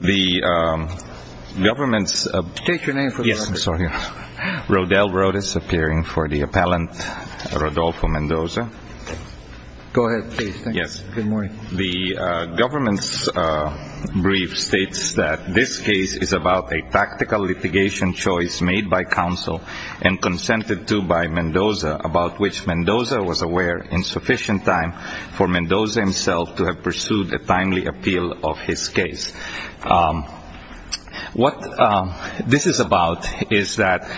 The government's brief states that this case is about a tactical litigation choice made by counsel and consented to by Mendoza, about which Mendoza was aware in sufficient time for Mendoza himself to have pursued a timely appeal of his case. What this is about is that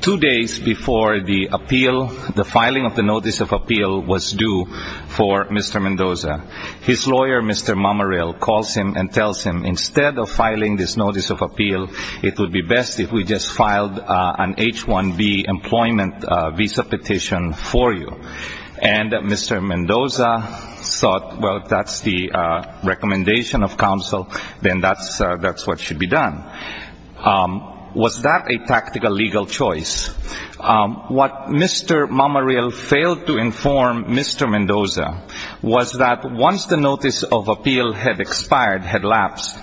two days before the filing of the notice of appeal was due for Mr. Mendoza, his lawyer, Mr. Mamarill, calls him and tells him, instead of filing this notice of appeal, it would be best if we just filed an H-1B employment visa petition for you. And Mr. Mendoza thought, well, if that's the recommendation of counsel, then that's what should be done. Was that a tactical legal choice? What Mr. Mamarill failed to inform Mr. Mendoza was that once the notice of appeal had expired, had lapsed,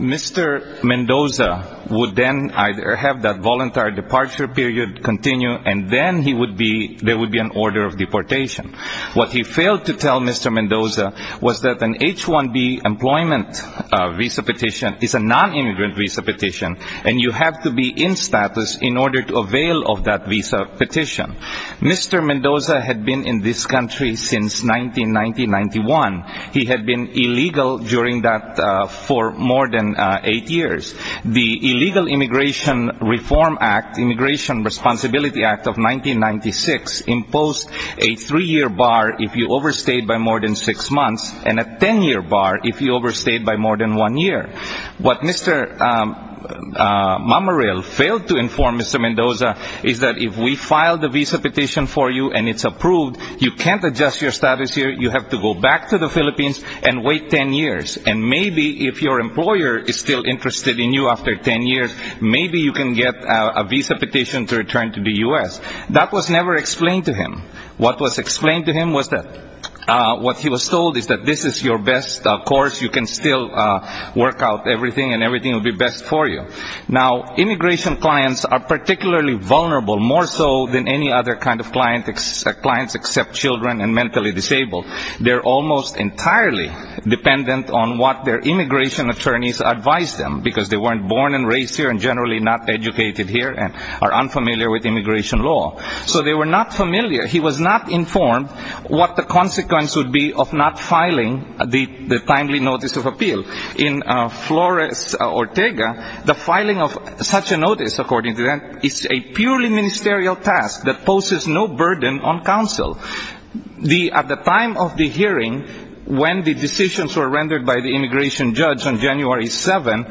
Mr. Mendoza would then either have that voluntary departure period continue and then there would be an order of deportation. What he failed to tell Mr. Mendoza was that an H-1B employment visa petition is a non-immigrant visa petition and you have to be in status in order to avail of that visa petition. Mr. Mendoza had been in this country since 1990-91. He had been illegal during that for more than eight years. The Illegal Immigration Reform Act, Immigration Responsibility Act of 1996 imposed a three-year bar if you overstayed by more than six months and a ten-year bar if you overstayed by more than one year. What Mr. Mamarill failed to inform Mr. Mendoza is that if we file the visa petition for you and it's approved, you can't adjust your status here. You have to go back to the Philippines and wait ten years. And maybe if your employer is still interested in you after ten years, maybe you can get a visa petition to return to the U.S. That was never explained to him. What was explained to him was that what he was told is that this is your best course. You can still work out everything and everything will be best for you. Now, immigration clients are particularly vulnerable, more so than any other kind of clients except children and mentally disabled. They're almost entirely dependent on what their immigration attorneys advise them because they weren't born and raised here and generally not educated here and are unfamiliar with immigration law. So they were not familiar. He was not informed what the consequence would be of not filing the timely notice of appeal. In Flores, Ortega, the filing of such a notice, according to them, is a purely ministerial task that poses no burden on counsel. At the time of the hearing, when the decisions were rendered by the immigration judge on January 7,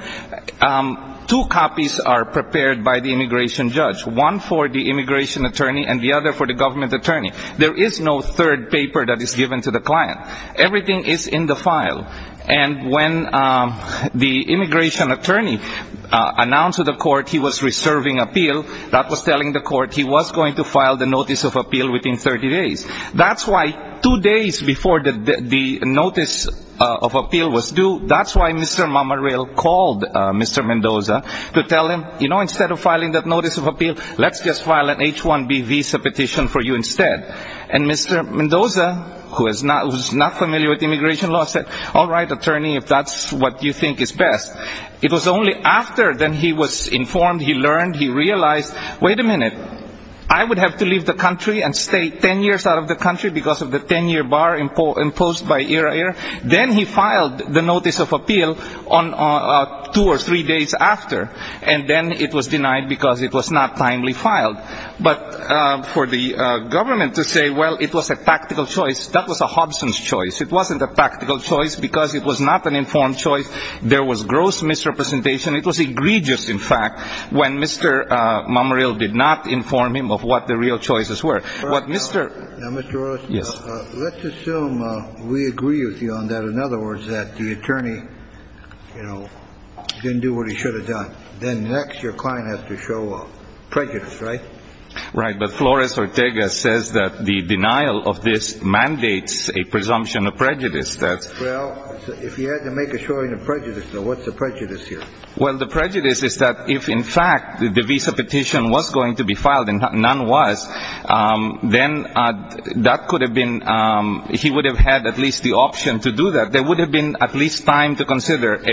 two copies are prepared by the immigration judge, one for the immigration attorney. There is no third paper that is given to the client. Everything is in the file. And when the immigration attorney announced to the court he was reserving appeal, that was telling the court he was going to file the notice of appeal within 30 days. That's why two days before the notice of appeal was due, that's why Mr. Mamarill called Mr. Mendoza to tell him, you know, instead of filing that notice of appeal, let's just file an H-1B visa petition for you instead. And Mr. Mendoza, who is not familiar with immigration law, said, all right, attorney, if that's what you think is best. It was only after he was informed, he learned, he realized, wait a minute, I would have to leave the country and stay 10 years out of the country because of the 10-year bar imposed by IRAIR? Then he filed the notice of appeal two or three days after. And then it was denied because it was not timely filed. But for the government to say, well, it was a practical choice, that was a Hobson's choice. It wasn't a practical choice because it was not an informed choice. There was gross misrepresentation. It was egregious, in fact, when Mr. Mamarill did not inform him of what the real choices were. Now, Mr. Orozco, let's assume we agree with you on that. In other words, that the attorney didn't do what he should have done. Then next, your client has to show up. Prejudice, right? Right. But Flores Ortega says that the denial of this mandates a presumption of prejudice. Well, if he had to make a showing of prejudice, though, what's the prejudice here? Well, the prejudice is that if, in fact, the visa petition was going to be filed and none was, then that could have been, he would have had at least the option to do that. There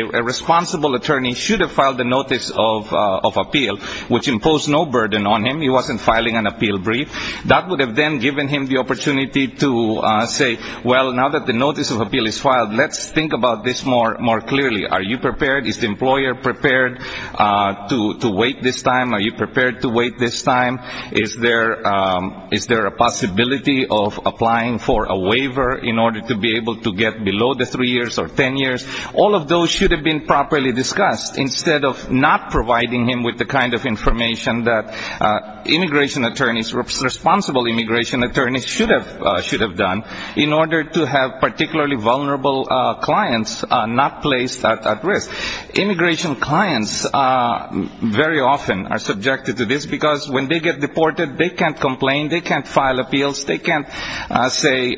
a responsible attorney should have filed the notice of appeal, which imposed no burden on him. He wasn't filing an appeal brief. That would have then given him the opportunity to say, well, now that the notice of appeal is filed, let's think about this more clearly. Are you prepared? Is the employer prepared to wait this time? Are you prepared to wait this time? Is there a possibility of applying for a waiver in order to be able to get below the three years or ten years? All of those should have been properly discussed instead of not providing him with the kind of information that immigration attorneys, responsible immigration attorneys should have done in order to have particularly vulnerable clients not placed at risk. Immigration clients very often are subjected to this because when they get deported, they can't complain. They can't file appeals. They can't say,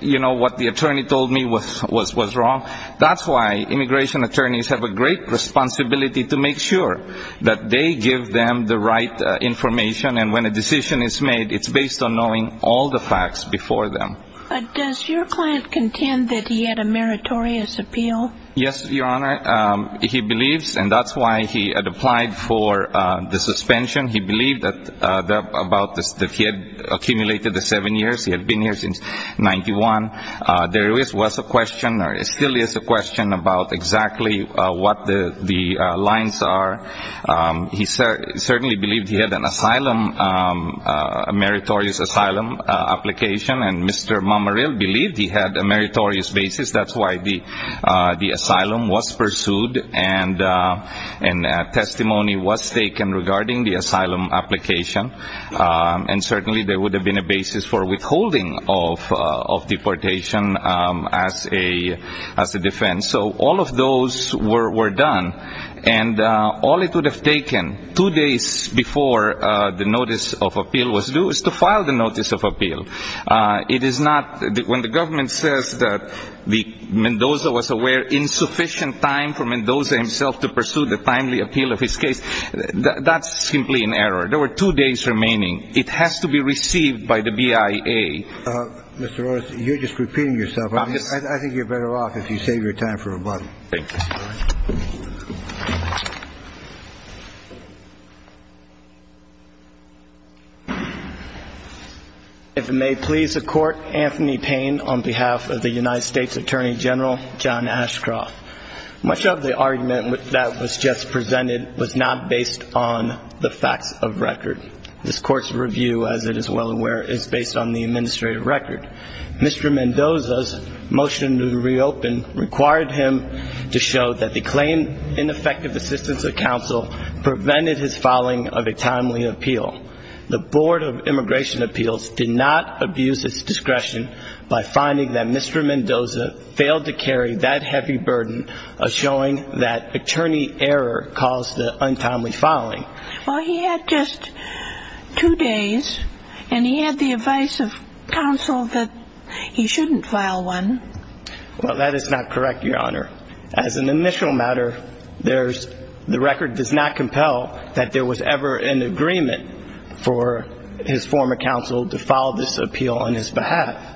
you know, what the attorney told me was wrong. That's why immigration attorneys have a great responsibility to make sure that they give them the right information. And when a decision is made, it's based on knowing all the facts before them. But does your client contend that he had a meritorious appeal? Yes, Your Honor. He believes, and that's why he had applied for the suspension. He believed that he had accumulated the seven years. He had been here since 1991. There was a question or still is a question about exactly what the lines are. He certainly believed he had an asylum, a meritorious asylum application. And Mr. Mamaril believed he had a meritorious basis. That's why the asylum was pursued and testimony was taken regarding the asylum application. And certainly there would have been a basis for withholding of deportation as a defense. So all of those were done. And all it would have taken, two days before the notice of appeal was due, is to file the notice of appeal. It is not, when the government says that Mendoza was aware insufficient time for Mendoza himself to pursue the timely appeal of his case, that's simply an error. There were two days remaining. It has to be received by the BIA. Mr. Orris, you're just repeating yourself. I think you're better off if you save your time for rebuttal. If it may please the Court, Anthony Payne on behalf of the United States Attorney General and John Ashcroft. Much of the argument that was just presented was not based on the facts of record. This Court's review, as it is well aware, is based on the administrative record. Mr. Mendoza's motion to reopen required him to show that the claim in effective assistance of counsel prevented his filing of a timely appeal. The Board of Immigration Appeals did not abuse its discretion by finding that Mr. Mendoza failed to carry that heavy burden of showing that attorney error caused the untimely filing. Well, he had just two days, and he had the advice of counsel that he shouldn't file one. Well, that is not correct, Your Honor. As an initial matter, there's the record does not compel that there was ever an agreement for his former counsel to file this appeal on his behalf.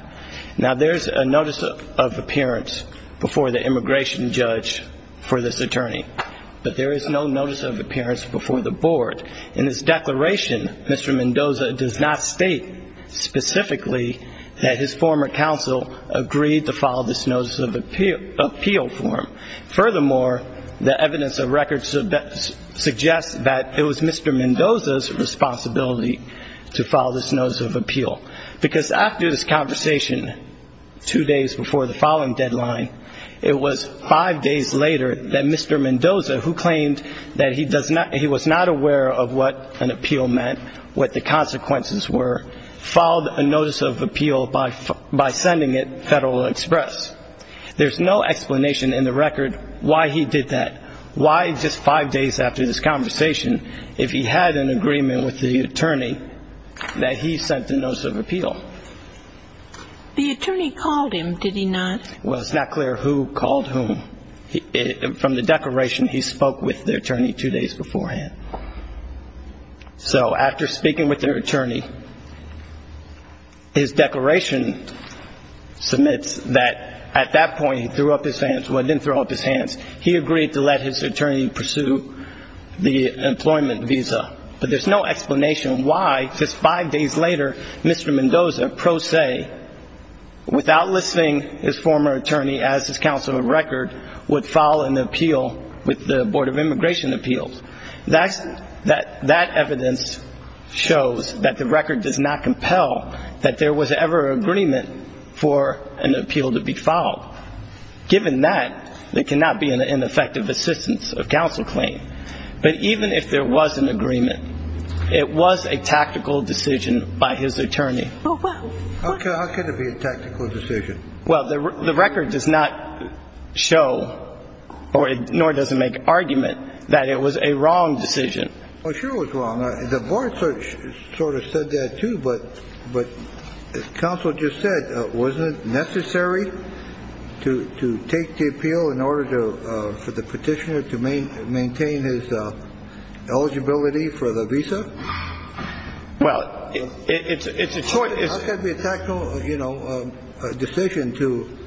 Now, there's a notice of appearance before the immigration judge for this attorney, but there is no notice of appearance before the Board. In this declaration, Mr. Mendoza does not state specifically that his former counsel agreed to file this notice of appeal for him. Furthermore, the evidence of record suggests that it was Mr. Mendoza's responsibility to file this notice of appeal, because after this conversation, two days before the filing deadline, it was five days later that Mr. Mendoza, who claimed that he was not aware of what an appeal meant, what the consequences were, filed a notice of appeal by sending it Federal Express. There's no explanation in the record why he did that, why just five days after this conversation, if he had an agreement with the attorney, that he sent the notice of appeal. The attorney called him, did he not? Well, it's not clear who called whom. From the declaration, he spoke with the attorney two days beforehand. So, after speaking with the attorney, his declaration was that he submits that. At that point, he threw up his hands. Well, he didn't throw up his hands. He agreed to let his attorney pursue the employment visa. But there's no explanation why, just five days later, Mr. Mendoza, pro se, without listing his former attorney as his counsel of record, would file an appeal with the Board of Immigration Appeals. That evidence shows that the record does not compel that there was ever agreement for an appeal to be filed. Given that, there cannot be an ineffective assistance of counsel claim. But even if there was an agreement, it was a tactical decision by his attorney. Well, how can it be a tactical decision? Well, the record does not show, nor does it make argument, that it was a wrong decision. Well, sure it was wrong. The board sort of said that, too. But counsel just said, wasn't necessary to take the appeal in order for the petitioner to maintain his eligibility for the visa? Well, it's a short... How can it be a tactical decision to,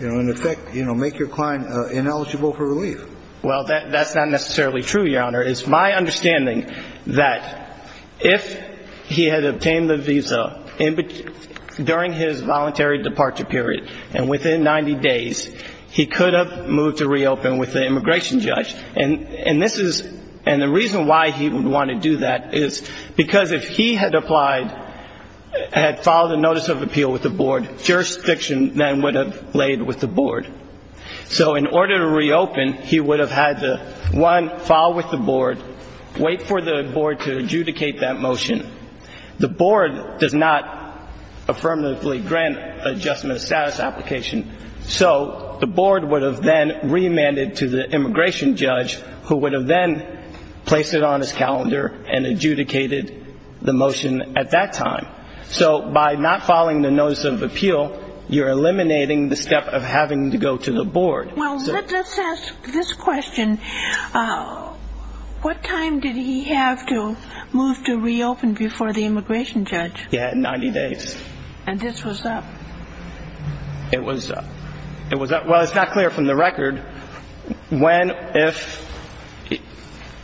in effect, make your client ineligible for relief? Well, that's not necessarily true, Your Honor. It's my understanding that if he had obtained the visa during his voluntary departure period, and within 90 days, he could have moved to reopen with the immigration judge. And the reason why he would want to do that is because if he had applied, had filed a notice of appeal with the board, jurisdiction then would have been delayed with the board. So in order to reopen, he would have had to, one, file with the board, wait for the board to adjudicate that motion. The board does not affirmatively grant adjustment of status application. So the board would have then remanded to the immigration judge, who would have then placed it on his calendar and adjudicated the motion at that time. So by not filing the notice of appeal, you're eliminating the step of having to go to the board. Well, let's ask this question. What time did he have to move to reopen before the immigration judge? He had 90 days. And this was that? It was that. Well, it's not clear from the record when, if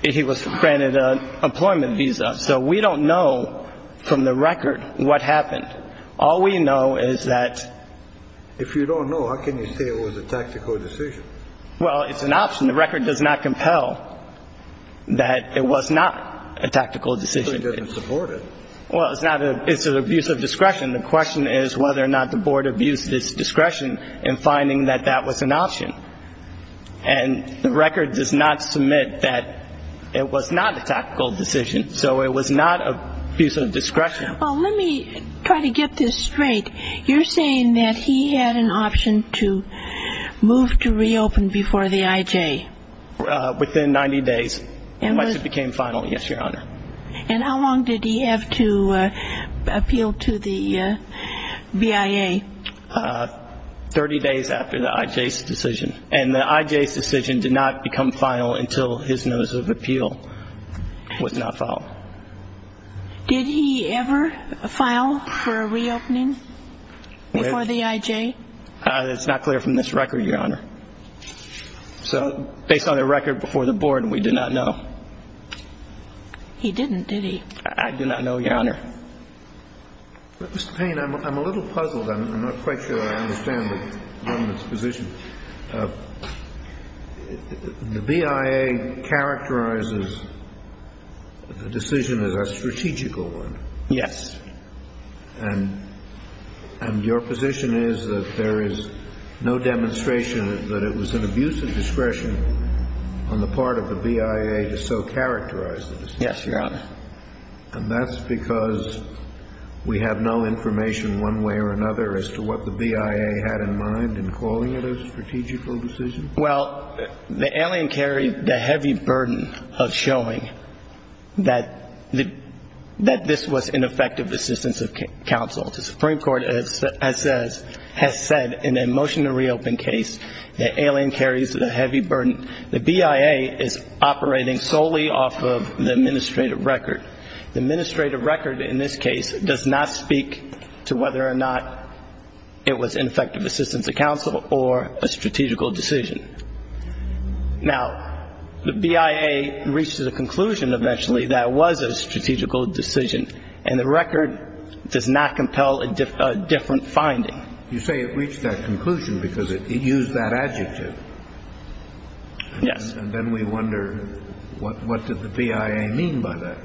he was granted an employment visa. So we don't know from the record what happened. All we know is that... If you don't know, how can you say it was a tactical decision? Well, it's an option. The record does not compel that it was not a tactical decision. But he didn't support it. Well, it's not a... it's an abuse of discretion. The question is whether or not the board abused its discretion in finding that that was an option. And the record does not submit that it was not a tactical decision. So it was not an abuse of discretion. Well, let me try to get this straight. You're saying that he had an option to move to reopen before the IJ? Within 90 days. And was... Unless it became final. Yes, Your Honor. And how long did he have to appeal to the BIA? Thirty days after the IJ's decision. And the IJ's decision did not become final until his notice of appeal was not filed. Did he ever file for a reopening before the IJ? It's not clear from this record, Your Honor. So, based on the record before the board, we do not know. He didn't, did he? I do not know, Your Honor. Mr. Payne, I'm a little puzzled. I'm not quite sure I understand the government's position. The BIA characterizes the decision as a strategical one. Yes. And your position is that there is no demonstration that it was an abuse of discretion on the part of the BIA to so characterize the decision? Yes, Your Honor. And that's because we have no information one way or another as to what the BIA had in mind in calling it a strategical decision? Well, the alien carried the heavy burden of showing that this was ineffective assistance of counsel. The Supreme Court has said in a motion to reopen case, the alien carries the heavy burden. The BIA is operating solely off of the administrative record. The administrative record in this case does not speak to whether or not it was ineffective assistance of counsel or a strategical decision. Now, the BIA reached a conclusion eventually that it was a strategical decision, and the record does not compel a different finding. You say it reached that conclusion because it used that adjective. Yes. And then we wonder, what did the BIA mean by that?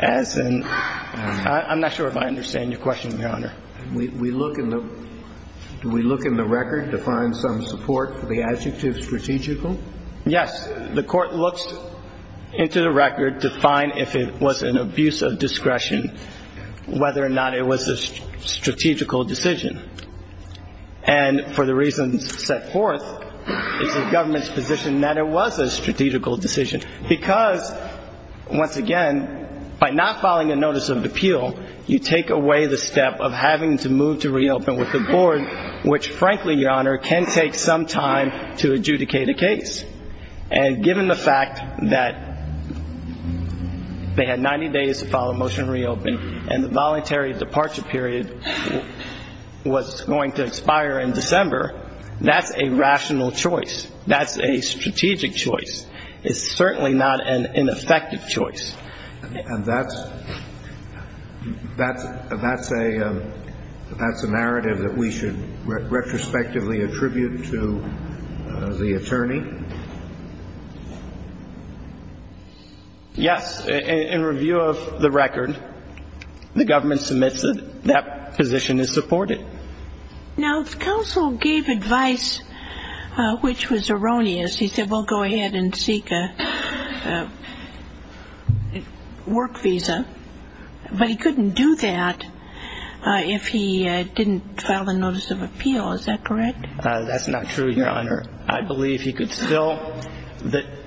As in, I'm not sure if I understand your question, Your Honor. We look in the record to find some support for the adjective strategical? Yes. The court looks into the record to find if it was an abuse of discretion, whether or not it was a strategical decision. And for the reasons set forth, it's the government's position that it was a strategical decision. Because, once again, by not filing a notice of appeal, you take away the step of having to move to reopen with the board, which, frankly, Your Honor, can take some time to adjudicate a case. And given the fact that they had 90 days to file a motion to reopen, and the voluntary departure period was going to expire in December, that's a rational choice. That's a strategic choice. It's certainly not an ineffective choice. And that's a narrative that we should retrospectively attribute to the attorney? Yes. In review of the record, the government submits that that position is supported. Now, counsel gave advice which was erroneous. He said, well, go ahead and seek a work visa. But he couldn't do that if he didn't file a notice of appeal. Is that correct? That's not true, Your Honor. I believe he could still the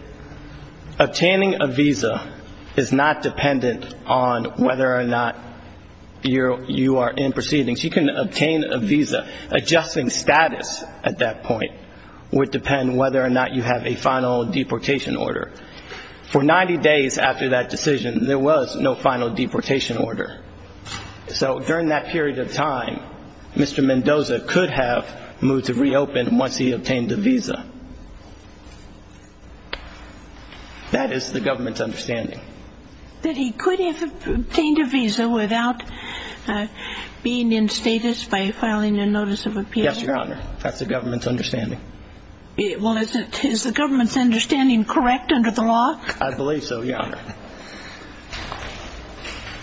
obtaining a visa is not dependent on whether or not you are in proceedings. He can obtain a visa. Adjusting status at that point would depend whether or not you have a final deportation order. For 90 days after that decision, there was no final deportation order. So during that period of time, Mr. Mendoza could have moved to reopen once he obtained a visa. That is the government's understanding. That he could have obtained a visa without being in status by filing a notice of appeal? Yes, Your Honor. That's the government's understanding. Well, is the government's understanding correct under the law? I believe so, Your Honor.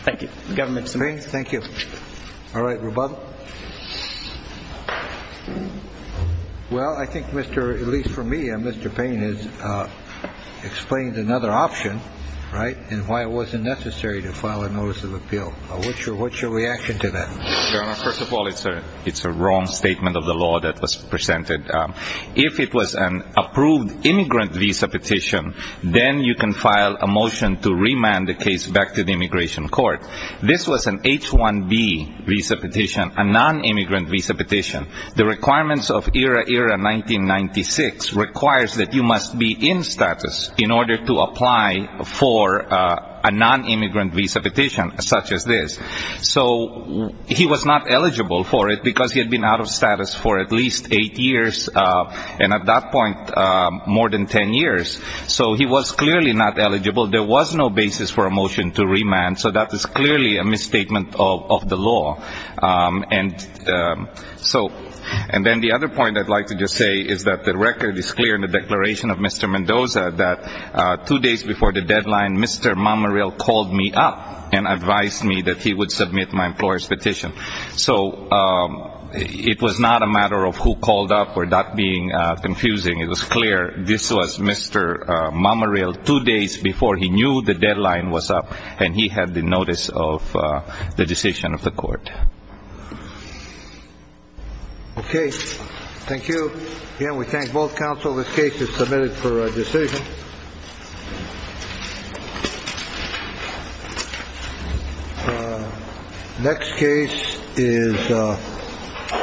Thank you. The government submits. Thank you. All right. Rebuttal? Well, I think, at least for me, Mr. Payne has explained another option, right, and why it wasn't necessary to file a notice of appeal. What's your reaction to that? Your Honor, first of all, it's a wrong statement of the law that was presented. If it was an approved immigrant visa petition, then you can file a motion to remand the case back to the immigration court. This was an H-1B visa petition, a non-immigrant visa petition. The requirements of ERA ERA 1996 requires that you must be in status in order to apply for a non-immigrant visa petition such as this. So he was not eligible for it because he had been out of status for at least eight years, and at that point more than ten years. So he was clearly not eligible. There was no basis for a motion to remand, so that is clearly a misstatement of the law. And so and then the other point I'd like to just say is that the record is clear in the declaration of Mr. Mendoza that two days before the deadline, Mr. Mamarill called me up and advised me that he would submit my employer's petition. So it was not a matter of who called up or that being confusing. It was clear this was Mr. Mamarill two days before he knew the deadline was up, and he had the notice of the decision of the court. Okay. Thank you. Again, we thank both counsel. This case is submitted for decision. Next case is...